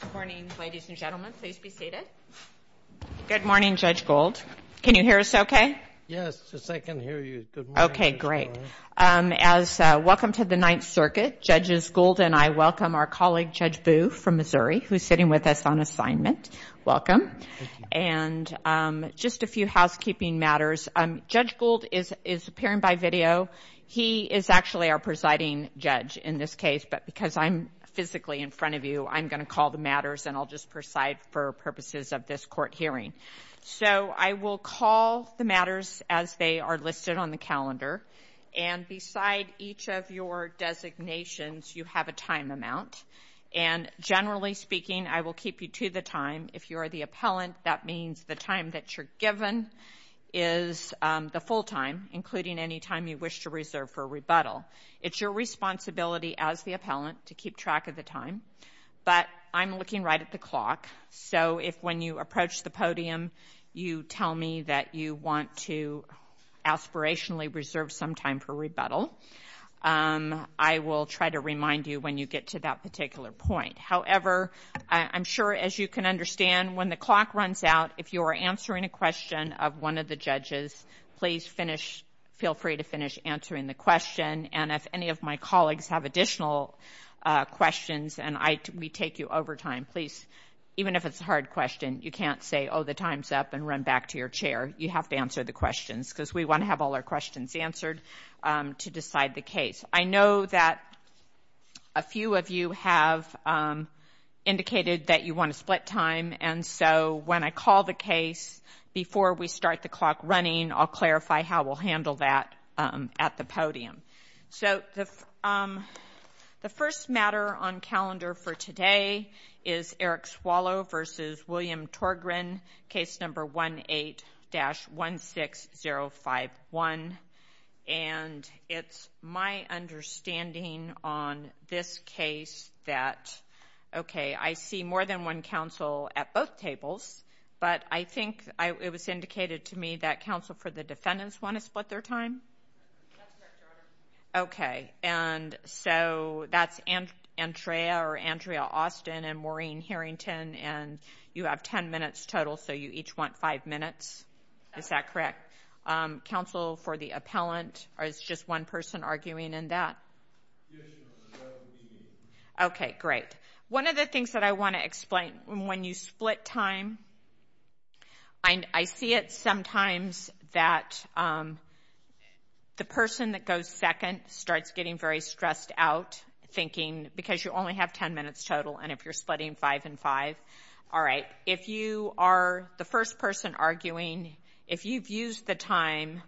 Good morning, ladies and gentlemen. Please be seated. Good morning, Judge Gould. Can you hear us okay? Yes, yes, I can hear you. Good morning. Okay, great. As welcome to the Ninth Circuit, Judges Gould and I welcome our colleague Judge Boo from Missouri, who is sitting with us on assignment. Welcome. Thank you. And just a few housekeeping matters. Judge Gould is appearing by video. He is actually our presiding judge in this case, but because I'm physically in front of you, I'm going to call the matters and I'll just preside for purposes of this court hearing. So I will call the matters as they are listed on the calendar. And beside each of your designations, you have a time amount. And generally speaking, I will keep you to the time. If you are the appellant, that means the time that you're given is the full time, including any time you wish to reserve for rebuttal. It's your responsibility as the appellant to keep track of the time. But I'm looking right at the clock, so if when you approach the podium, you tell me that you want to aspirationally reserve some time for rebuttal, I will try to remind you when you get to that particular point. However, I'm sure as you can understand, when the clock runs out, if you are answering a question of one of the judges, please feel free to finish answering the question. And if any of my colleagues have additional questions and we take you over time, please, even if it's a hard question, you can't say, oh, the time's up and run back to your chair. You have to answer the questions because we want to have all our questions answered to decide the case. I know that a few of you have indicated that you want to split time, and so when I call the case, before we start the clock running, I'll clarify how we'll handle that at the podium. So the first matter on calendar for today is Eric Swallow versus William Torgren, case number 18-16051. And it's my understanding on this case that, okay, I see more than one counsel at both tables, but I think it was indicated to me that counsel for the defendants want to split their time. Okay, and so that's Andrea Austin and Maureen Harrington, and you have ten minutes total, so you each want five minutes. Is that correct? Counsel for the appellant, or is it just one person arguing in that? Yes, ma'am. Okay, great. One of the things that I want to explain, when you split time, I see it sometimes that the person that goes second starts getting very stressed out, thinking because you only have ten minutes total and if you're splitting five and five. All right, if you are the first person arguing, if you've used the time,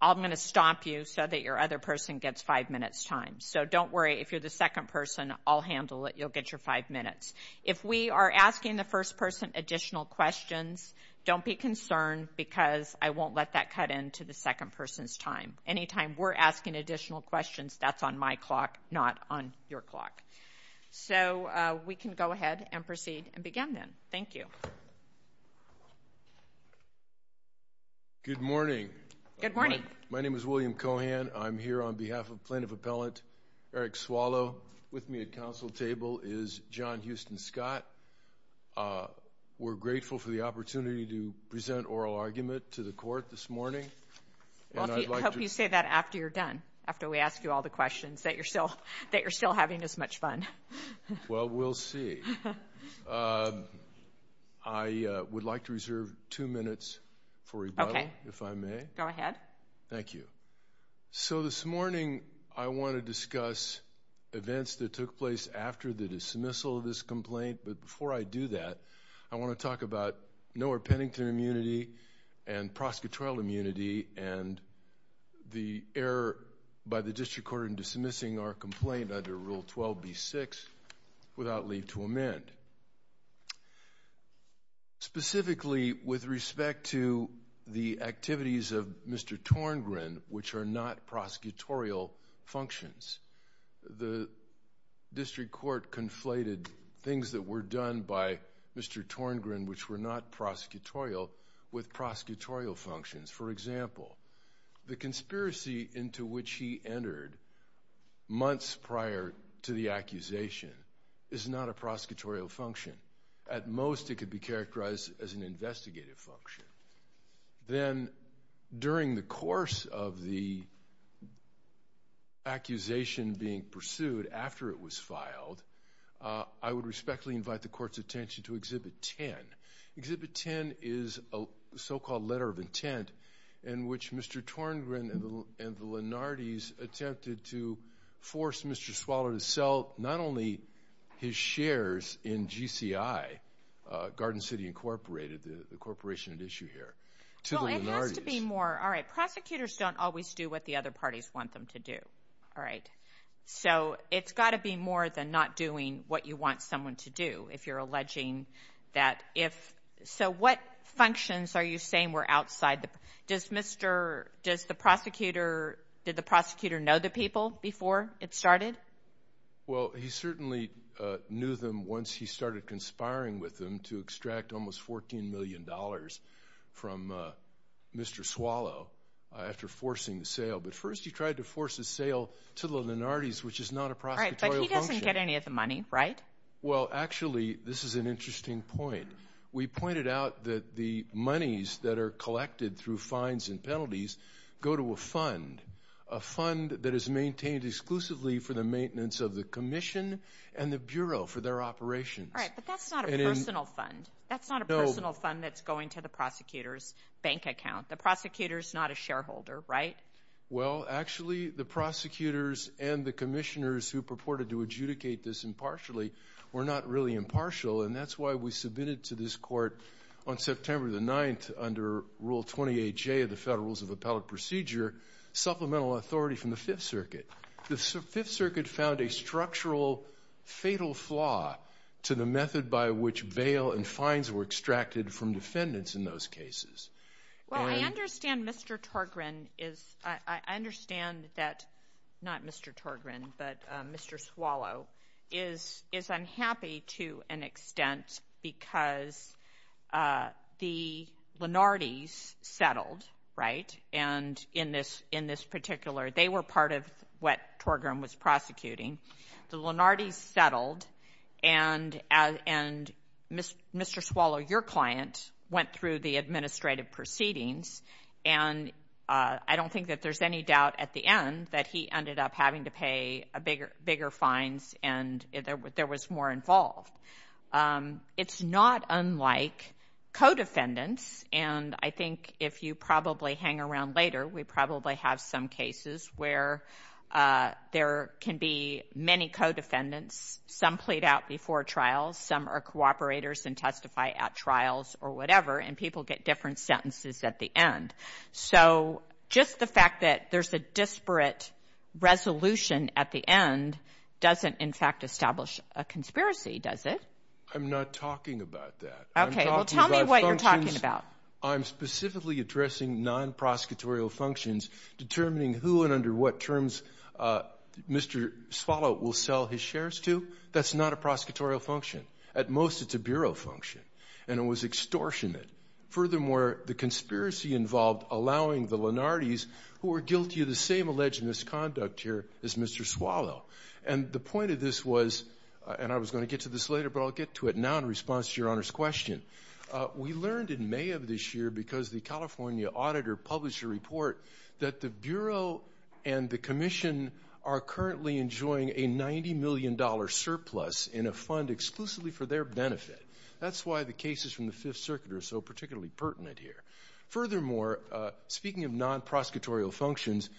I'm going to stop you so that your other person gets five minutes' time. So don't worry. If you're the second person, I'll handle it. You'll get your five minutes. If we are asking the first person additional questions, don't be concerned because I won't let that cut into the second person's time. Anytime we're asking additional questions, that's on my clock, not on your clock. So we can go ahead and proceed and begin then. Thank you. Good morning. Good morning. My name is William Cohan. I'm here on behalf of Plaintiff Appellant Eric Swallow. With me at counsel table is John Houston Scott. We're grateful for the opportunity to present oral argument to the court this morning. I hope you say that after you're done, after we ask you all the questions, that you're still having as much fun. Well, we'll see. I would like to reserve two minutes for rebuttal, if I may. Okay. Go ahead. Thank you. So this morning I want to discuss events that took place after the dismissal of this complaint. But before I do that, I want to talk about Noah Pennington immunity and prosecutorial immunity and the error by the district court in dismissing our complaint under Rule 12b-6 without leave to amend. Specifically, with respect to the activities of Mr. Torngren, which are not prosecutorial functions. The district court conflated things that were done by Mr. Torngren, which were not prosecutorial, with prosecutorial functions. For example, the conspiracy into which he entered months prior to the accusation is not a prosecutorial function. At most it could be characterized as an investigative function. Then during the course of the accusation being pursued after it was filed, I would respectfully invite the court's attention to Exhibit 10. Exhibit 10 is a so-called letter of intent in which Mr. Torngren and the Lenardys attempted to force Mr. Swaller to sell not only his shares in GCI, Garden City Incorporated, the corporation at issue here, to the Lenardys. Well, it has to be more. All right, prosecutors don't always do what the other parties want them to do. All right. So it's got to be more than not doing what you want someone to do if you're alleging that if... So what functions are you saying were outside the... Does Mr.... Does the prosecutor... Did the prosecutor know the people before it started? Well, he certainly knew them once he started conspiring with them to extract almost $14 million from Mr. Swallow after forcing the sale. But first he tried to force a sale to the Lenardys, which is not a prosecutorial function. All right, but he doesn't get any of the money, right? Well, actually, this is an interesting point. We pointed out that the monies that are collected through fines and penalties go to a fund, a fund that is maintained exclusively for the maintenance of the commission and the bureau for their operations. All right, but that's not a personal fund. That's not a personal fund that's going to the prosecutor's bank account. The prosecutor is not a shareholder, right? Well, actually, the prosecutors and the commissioners who purported to adjudicate this impartially were not really impartial, and that's why we submitted to this court on September 9th under Rule 28J of the Federal Rules of Appellate Procedure supplemental authority from the Fifth Circuit. The Fifth Circuit found a structural fatal flaw to the method by which bail and fines were extracted from defendants in those cases. Well, I understand Mr. Torgren is – I understand that – not Mr. Torgren, but Mr. Swallow is unhappy to an extent because the Lenardys settled, right, and in this particular – they were part of what Torgren was prosecuting. The Lenardys settled, and Mr. Swallow, your client, went through the administrative proceedings, and I don't think that there's any doubt at the end that he ended up having to pay bigger fines and there was more involved. It's not unlike co-defendants, and I think if you probably hang around later, we probably have some cases where there can be many co-defendants. Some plead out before trials. Some are cooperators and testify at trials or whatever, and people get different sentences at the end. So just the fact that there's a disparate resolution at the end doesn't in fact establish a conspiracy, does it? I'm not talking about that. Okay, well, tell me what you're talking about. I'm specifically addressing non-prosecutorial functions, determining who and under what terms Mr. Swallow will sell his shares to. That's not a prosecutorial function. At most, it's a bureau function, and it was extortionate. Furthermore, the conspiracy involved allowing the Lenardys, who were guilty of the same alleged misconduct here, as Mr. Swallow. And the point of this was – and I was going to get to this later, but I'll get to it now in response to Your Honor's question. We learned in May of this year, because the California auditor published a report, that the bureau and the commission are currently enjoying a $90 million surplus in a fund exclusively for their benefit. That's why the cases from the Fifth Circuit are so particularly pertinent here. Furthermore, speaking of non-prosecutorial functions,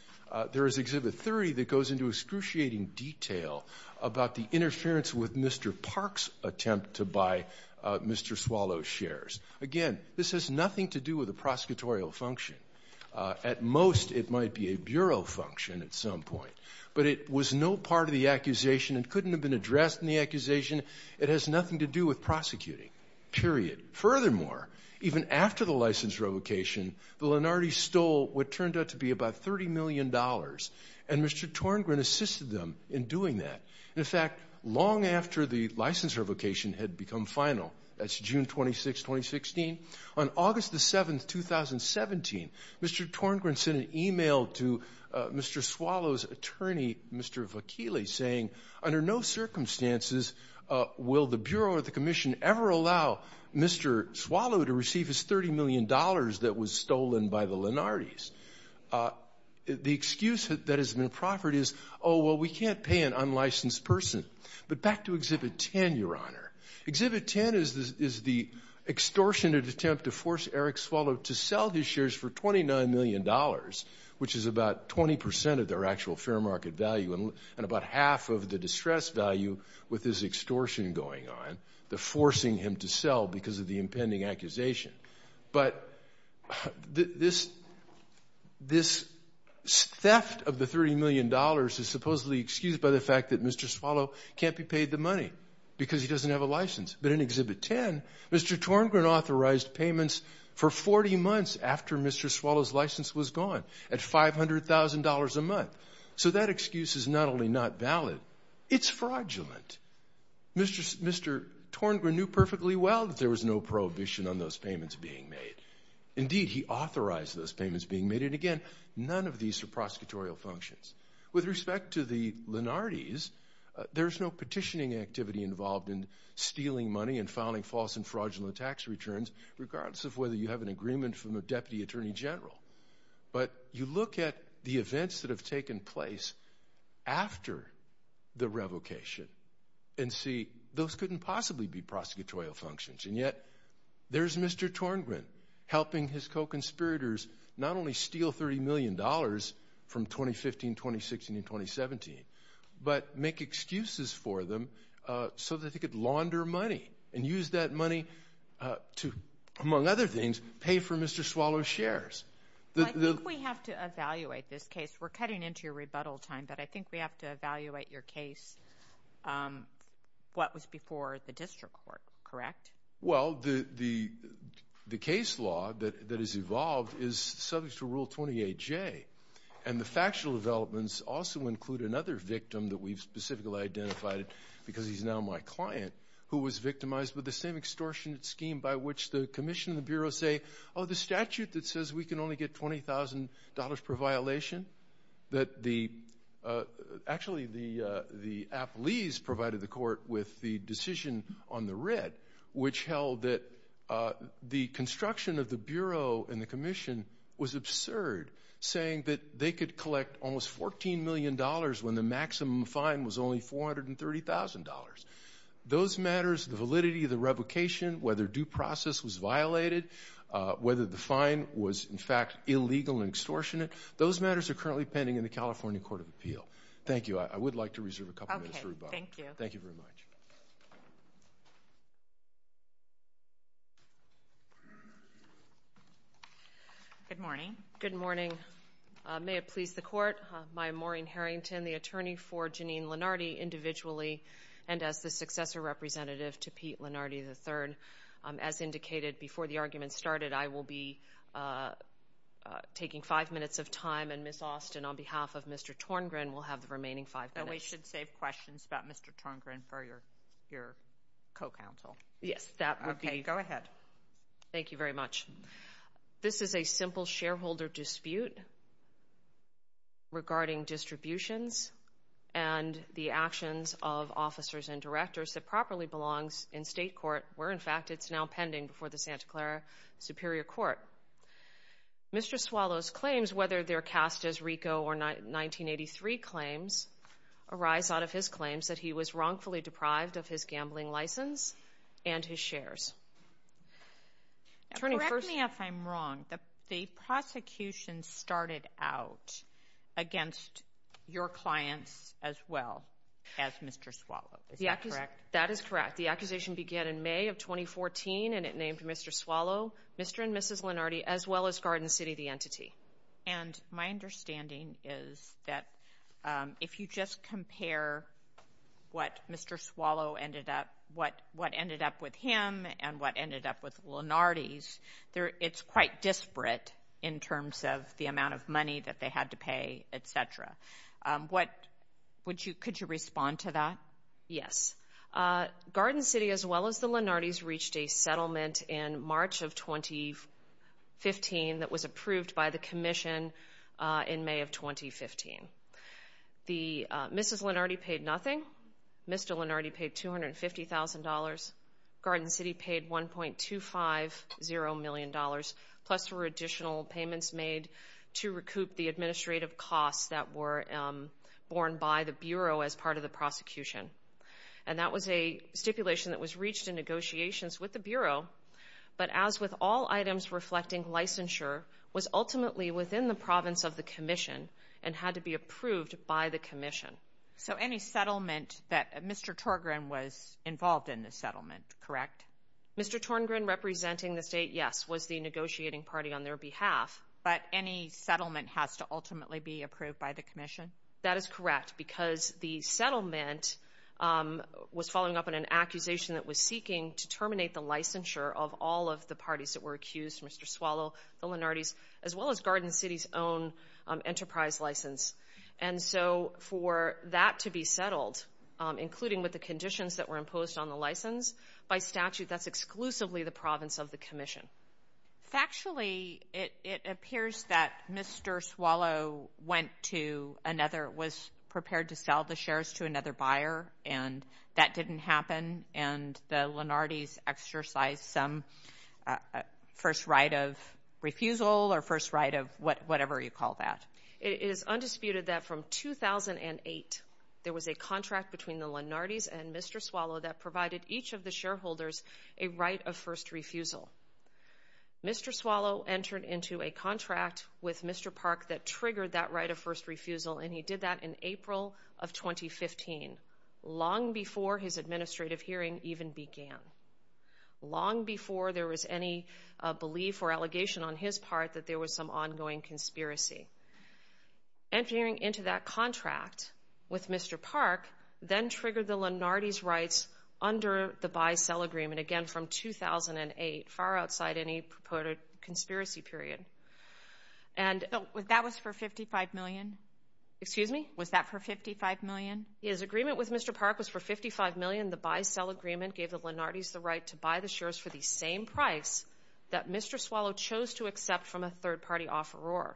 there is Exhibit 30 that goes into excruciating detail about the interference with Mr. Park's attempt to buy Mr. Swallow's shares. Again, this has nothing to do with a prosecutorial function. At most, it might be a bureau function at some point. But it was no part of the accusation and couldn't have been addressed in the accusation. It has nothing to do with prosecuting, period. Furthermore, even after the license revocation, the Lenardi's stole what turned out to be about $30 million. And Mr. Torngren assisted them in doing that. In fact, long after the license revocation had become final – that's June 26, 2016 – on August the 7th, 2017, Mr. Torngren sent an email to Mr. Swallow's attorney, Mr. Vakili, saying, under no circumstances will the Bureau or the Commission ever allow Mr. Swallow to receive his $30 million that was stolen by the Lenardi's. The excuse that has been proffered is, oh, well, we can't pay an unlicensed person. But back to Exhibit 10, Your Honor. Exhibit 10 is the extortionate attempt to force Eric Swallow to sell his shares for $29 million, which is about 20 percent of their actual fair market value and about half of the distressed value with this extortion going on, the forcing him to sell because of the impending accusation. But this theft of the $30 million is supposedly excused by the fact that Mr. Swallow can't be paid the money because he doesn't have a license. But in Exhibit 10, Mr. Torngren authorized payments for 40 months after Mr. Swallow's license was gone at $500,000 a month. So that excuse is not only not valid, it's fraudulent. Mr. Torngren knew perfectly well that there was no prohibition on those payments being made. Indeed, he authorized those payments being made. And, again, none of these are prosecutorial functions. With respect to the Lenardi's, there's no petitioning activity involved in stealing money and filing false and fraudulent tax returns, regardless of whether you have an agreement from a deputy attorney general. But you look at the events that have taken place after the revocation and see those couldn't possibly be prosecutorial functions. And yet there's Mr. Torngren helping his co-conspirators not only steal $30 million from 2015, 2016, and 2017, but make excuses for them so that they could launder money and use that money to, among other things, pay for Mr. Swallow's shares. I think we have to evaluate this case. We're cutting into your rebuttal time, but I think we have to evaluate your case. What was before the district court, correct? Well, the case law that has evolved is subject to Rule 28J. And the factual developments also include another victim that we've specifically identified, because he's now my client, who was victimized with the same extortionate scheme by which the commission and the Bureau say, oh, the statute that says we can only get $20,000 per violation, that the – actually, the appellees provided the court with the decision on the writ, which held that the construction of the Bureau and the commission was absurd, saying that they could collect almost $14 million when the maximum fine was only $430,000. Those matters, the validity of the revocation, whether due process was violated, whether the fine was, in fact, illegal and extortionate, those matters are currently pending in the California Court of Appeal. Thank you. I would like to reserve a couple minutes for rebuttal. Okay. Thank you. Thank you very much. Good morning. Good morning. Good morning. May it please the Court, I'm Maureen Harrington, the attorney for Janine Lenardi individually and as the successor representative to Pete Lenardi III. As indicated before the argument started, I will be taking five minutes of time, and Ms. Austin, on behalf of Mr. Torngren, will have the remaining five minutes. And we should save questions about Mr. Torngren for your co-counsel. Yes, that would be – Okay, go ahead. Thank you very much. This is a simple shareholder dispute regarding distributions and the actions of officers and directors that properly belongs in state court, where, in fact, it's now pending before the Santa Clara Superior Court. Mr. Swallow's claims, whether they're cast as RICO or 1983 claims, arise out of his claims that he was wrongfully deprived of his gambling license and his shares. Correct me if I'm wrong. The prosecution started out against your clients as well as Mr. Swallow. Is that correct? That is correct. The accusation began in May of 2014, and it named Mr. Swallow, Mr. and Mrs. Lenardi, as well as Garden City, the entity. And my understanding is that if you just compare what Mr. Swallow ended up, what ended up with him, and what ended up with Lenardi's, it's quite disparate in terms of the amount of money that they had to pay, et cetera. Could you respond to that? Yes. Garden City, as well as the Lenardi's, reached a settlement in March of 2015 that was approved by the commission in May of 2015. Mrs. Lenardi paid nothing. Mr. Lenardi paid $250,000. Garden City paid $1.250 million, plus there were additional payments made to recoup the administrative costs that were borne by the Bureau as part of the prosecution. And that was a stipulation that was reached in negotiations with the Bureau, but as with all items reflecting licensure, was ultimately within the province of the commission and had to be approved by the commission. So any settlement that Mr. Torngren was involved in the settlement, correct? Mr. Torngren representing the state, yes, was the negotiating party on their behalf. But any settlement has to ultimately be approved by the commission? That is correct because the settlement was following up on an accusation that was seeking to terminate the licensure of all of the parties that were accused, Mr. Swallow, the Lenardi's, as well as Garden City's own enterprise license. And so for that to be settled, including with the conditions that were imposed on the license by statute, that's exclusively the province of the commission. Factually, it appears that Mr. Swallow went to another, was prepared to sell the shares to another buyer, and that didn't happen, and the Lenardi's exercised some first right of refusal or first right of whatever you call that. It is undisputed that from 2008, there was a contract between the Lenardi's and Mr. Swallow that provided each of the shareholders a right of first refusal. Mr. Swallow entered into a contract with Mr. Park that triggered that right of first refusal, and he did that in April of 2015, long before his administrative hearing even began, long before there was any belief or allegation on his part that there was some ongoing conspiracy. Entering into that contract with Mr. Park then triggered the Lenardi's rights under the buy-sell agreement, again from 2008, far outside any purported conspiracy period. That was for $55 million? Excuse me? Was that for $55 million? His agreement with Mr. Park was for $55 million. The buy-sell agreement gave the Lenardi's the right to buy the shares for the same price that Mr. Swallow chose to accept from a third-party offeror.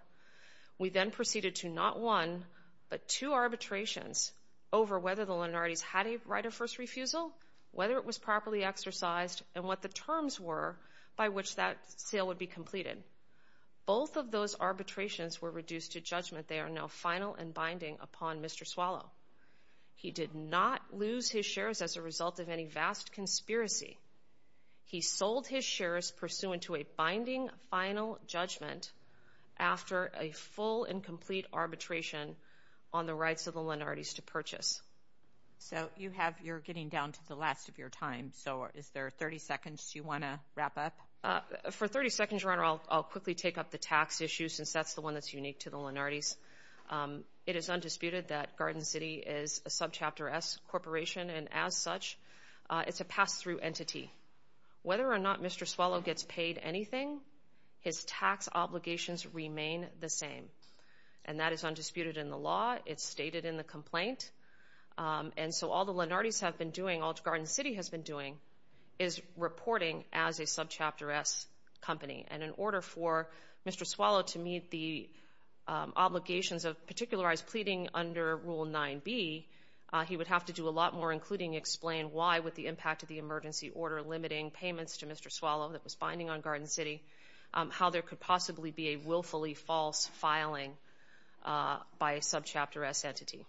We then proceeded to not one, but two arbitrations over whether the Lenardi's had a right of first refusal, whether it was properly exercised, and what the terms were by which that sale would be completed. Both of those arbitrations were reduced to judgment. They are now final and binding upon Mr. Swallow. He did not lose his shares as a result of any vast conspiracy. He sold his shares pursuant to a binding final judgment after a full and complete arbitration on the rights of the Lenardi's to purchase. So you're getting down to the last of your time. So is there 30 seconds you want to wrap up? For 30 seconds, Your Honor, I'll quickly take up the tax issue since that's the one that's unique to the Lenardi's. It is undisputed that Garden City is a Subchapter S corporation, and as such, it's a pass-through entity. Whether or not Mr. Swallow gets paid anything, his tax obligations remain the same, and that is undisputed in the law. It's stated in the complaint. And so all the Lenardi's have been doing, all Garden City has been doing, is reporting as a Subchapter S company. And in order for Mr. Swallow to meet the obligations of particularized pleading under Rule 9b, he would have to do a lot more, including explain why, with the impact of the emergency order limiting payments to Mr. Swallow that was binding on Garden City, how there could possibly be a willfully false filing by a Subchapter S entity.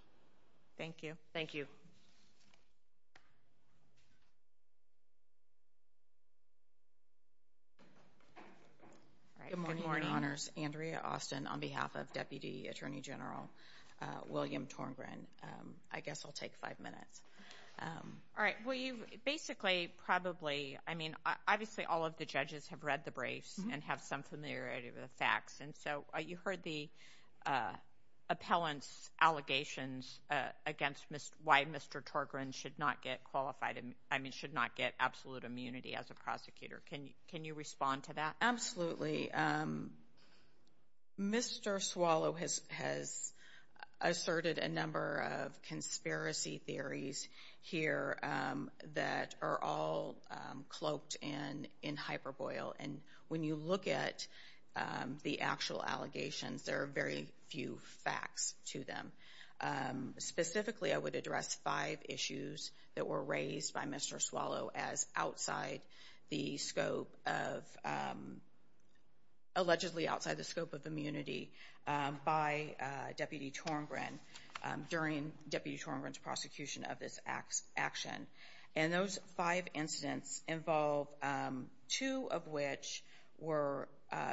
Thank you. Thank you. Good morning, Your Honors. Andrea Austin on behalf of Deputy Attorney General William Torgren. I guess I'll take five minutes. All right. Well, you've basically probably, I mean, obviously all of the judges have read the briefs and have some familiarity with the facts. And so you heard the appellant's allegations against why Mr. Torgren should not get absolute immunity as a prosecutor. Can you respond to that? Absolutely. Mr. Swallow has asserted a number of conspiracy theories here that are all cloaked in hyperbole. And when you look at the actual allegations, there are very few facts to them. Specifically, I would address five issues that were raised by Mr. Swallow as outside the scope of, allegedly outside the scope of immunity by Deputy Torgren during Deputy Torgren's prosecution of this action. And those five incidents involve two of which were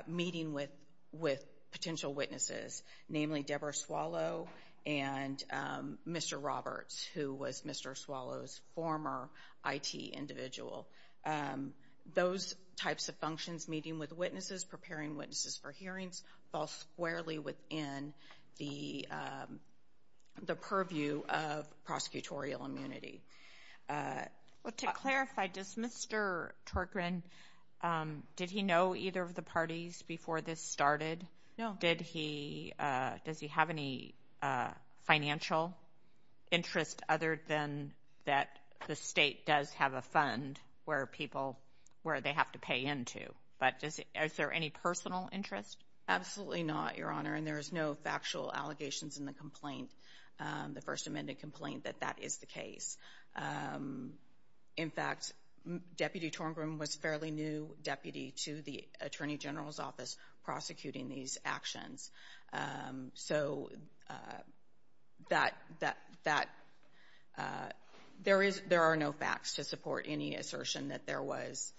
meeting with potential witnesses, namely Deborah Swallow and Mr. Roberts, who was Mr. Swallow's former IT individual. Those types of functions, meeting with witnesses, preparing witnesses for hearings, fall squarely within the purview of prosecutorial immunity. Well, to clarify, does Mr. Torgren, did he know either of the parties before this started? No. Does he have any financial interest other than that the state does have a fund where people, where they have to pay into? But is there any personal interest? Absolutely not, Your Honor, and there is no factual allegations in the complaint, the First Amendment complaint, that that is the case. In fact, Deputy Torgren was a fairly new deputy to the Attorney General's office prosecuting these actions. So that, there are no facts to support any assertion that there was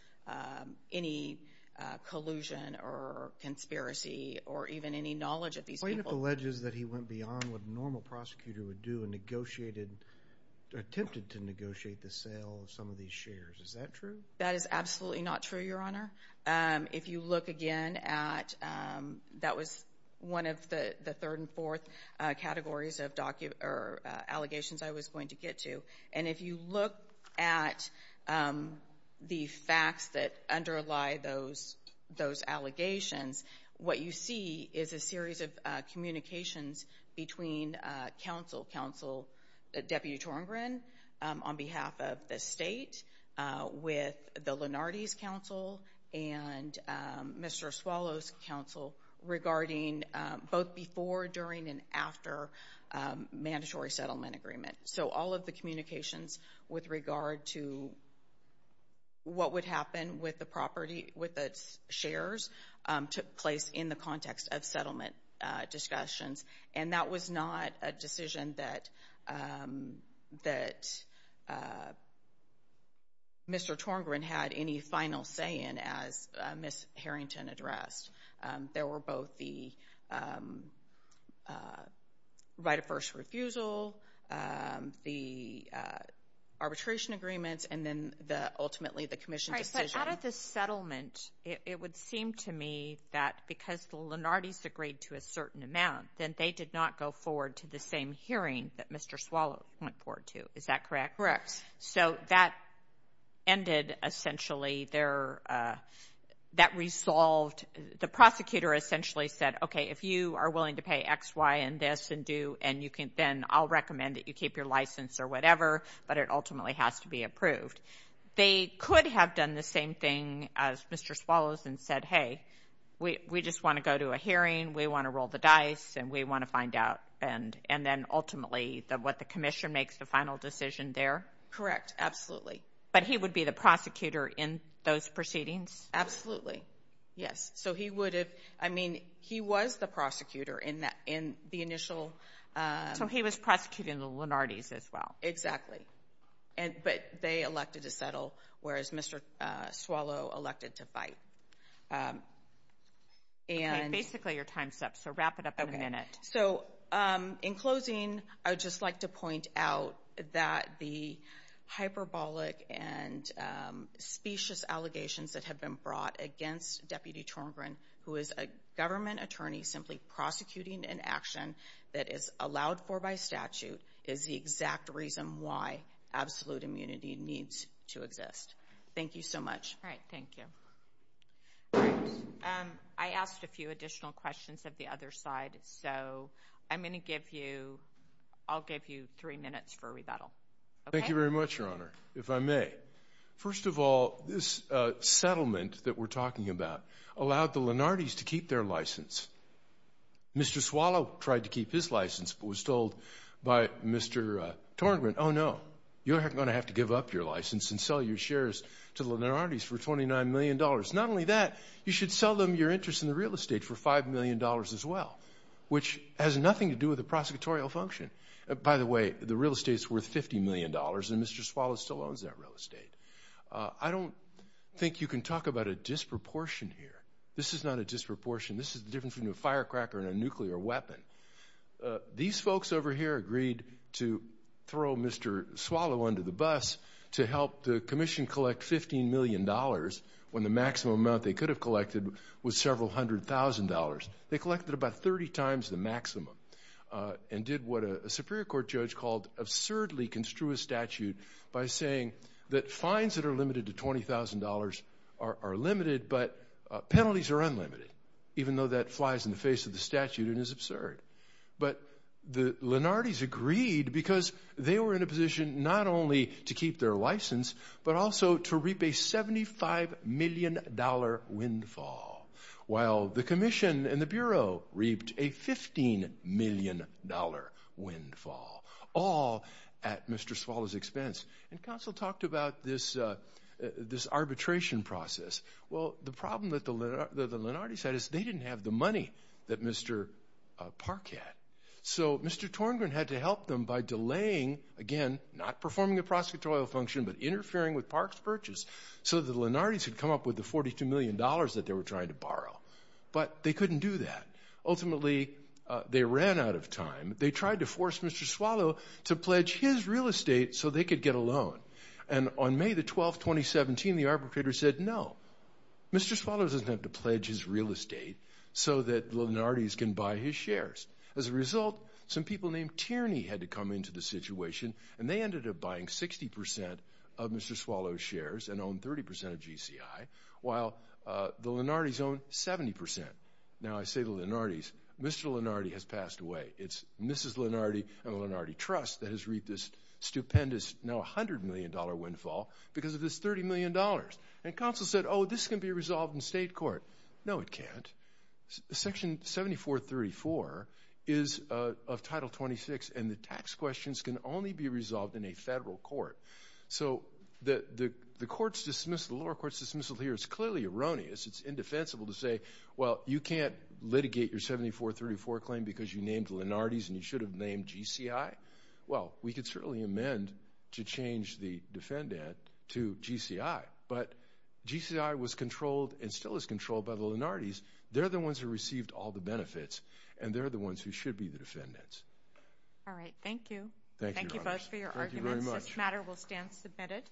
any collusion or conspiracy or even any knowledge of these people. The complaint alleges that he went beyond what a normal prosecutor would do and negotiated, attempted to negotiate the sale of some of these shares. Is that true? That is absolutely not true, Your Honor. If you look again at, that was one of the third and fourth categories of allegations I was going to get to, and if you look at the facts that underlie those allegations, what you see is a series of communications between counsel, Deputy Torgren, on behalf of the state, with the Lenardi's counsel and Mr. Swallow's counsel regarding both before, during, and after mandatory settlement agreement. So all of the communications with regard to what would happen with the property, with the shares, took place in the context of settlement discussions, and that was not a decision that Mr. Torgren had any final say in, as Ms. Harrington addressed. There were both the right of first refusal, the arbitration agreements, and then ultimately the commission decision. But out of the settlement, it would seem to me that because the Lenardi's agreed to a certain amount, then they did not go forward to the same hearing that Mr. Swallow went forward to. Is that correct? Correct. So that ended essentially their, that resolved, the prosecutor essentially said, okay, if you are willing to pay X, Y, and this and do, and you can, then I'll recommend that you keep your license or whatever, but it ultimately has to be approved. They could have done the same thing as Mr. Swallow's and said, hey, we just want to go to a hearing, we want to roll the dice, and we want to find out, and then ultimately what the commission makes the final decision there? Correct. Absolutely. But he would be the prosecutor in those proceedings? Absolutely. Yes. So he would have, I mean, he was the prosecutor in the initial. So he was prosecuting the Lenardi's as well. Exactly. But they elected to settle, whereas Mr. Swallow elected to fight. Okay, basically your time's up, so wrap it up in a minute. Okay. So in closing, I would just like to point out that the hyperbolic and specious allegations that have been brought against Deputy Tormgren, who is a government attorney simply prosecuting an action that is allowed for by statute, is the exact reason why absolute immunity needs to exist. Thank you so much. All right, thank you. I asked a few additional questions of the other side, so I'm going to give you, I'll give you three minutes for rebuttal. Thank you very much, Your Honor, if I may. First of all, this settlement that we're talking about allowed the Lenardi's to keep their license. Mr. Swallow tried to keep his license, but was told by Mr. Tormgren, oh, no, you're going to have to give up your license and sell your shares to the Lenardi's for $29 million. Not only that, you should sell them your interest in the real estate for $5 million as well, which has nothing to do with the prosecutorial function. By the way, the real estate's worth $50 million, and Mr. Swallow still owns that real estate. I don't think you can talk about a disproportion here. This is not a disproportion. This is the difference between a firecracker and a nuclear weapon. These folks over here agreed to throw Mr. Swallow under the bus to help the commission collect $15 million when the maximum amount they could have collected was several hundred thousand dollars. They collected about 30 times the maximum and did what a Superior Court judge called absurdly construist statute by saying that fines that are limited to $20,000 are limited, but penalties are unlimited, even though that flies in the face of the statute and is absurd. But the Lenardi's agreed because they were in a position not only to keep their license, but also to reap a $75 million windfall, while the commission and the Bureau reaped a $15 million windfall, all at Mr. Swallow's expense. And counsel talked about this arbitration process. Well, the problem that the Lenardi's had is they didn't have the money that Mr. Park had. So Mr. Torngren had to help them by delaying, again, not performing a prosecutorial function, but interfering with Park's purchase, so the Lenardi's could come up with the $42 million that they were trying to borrow. But they couldn't do that. Ultimately, they ran out of time. They tried to force Mr. Swallow to pledge his real estate so they could get a loan. And on May the 12th, 2017, the arbitrator said no. Mr. Swallow doesn't have to pledge his real estate so that the Lenardi's can buy his shares. As a result, some people named Tierney had to come into the situation, and they ended up buying 60% of Mr. Swallow's shares and owned 30% of GCI, while the Lenardi's owned 70%. Now, I say the Lenardi's. Mr. Lenardi has passed away. It's Mrs. Lenardi and the Lenardi Trust that has reaped this stupendous, now $100 million windfall because of this $30 million. And counsel said, oh, this can be resolved in state court. No, it can't. Section 7434 is of Title 26, and the tax questions can only be resolved in a federal court. So the court's dismissal, the lower court's dismissal here is clearly erroneous. It's indefensible to say, well, you can't litigate your 7434 claim because you named Lenardi's and you should have named GCI. Well, we could certainly amend to change the defendant to GCI, but GCI was controlled and still is controlled by the Lenardi's. They're the ones who received all the benefits, and they're the ones who should be the defendants. All right. Thank you. Thank you both for your arguments. This matter will stand submitted.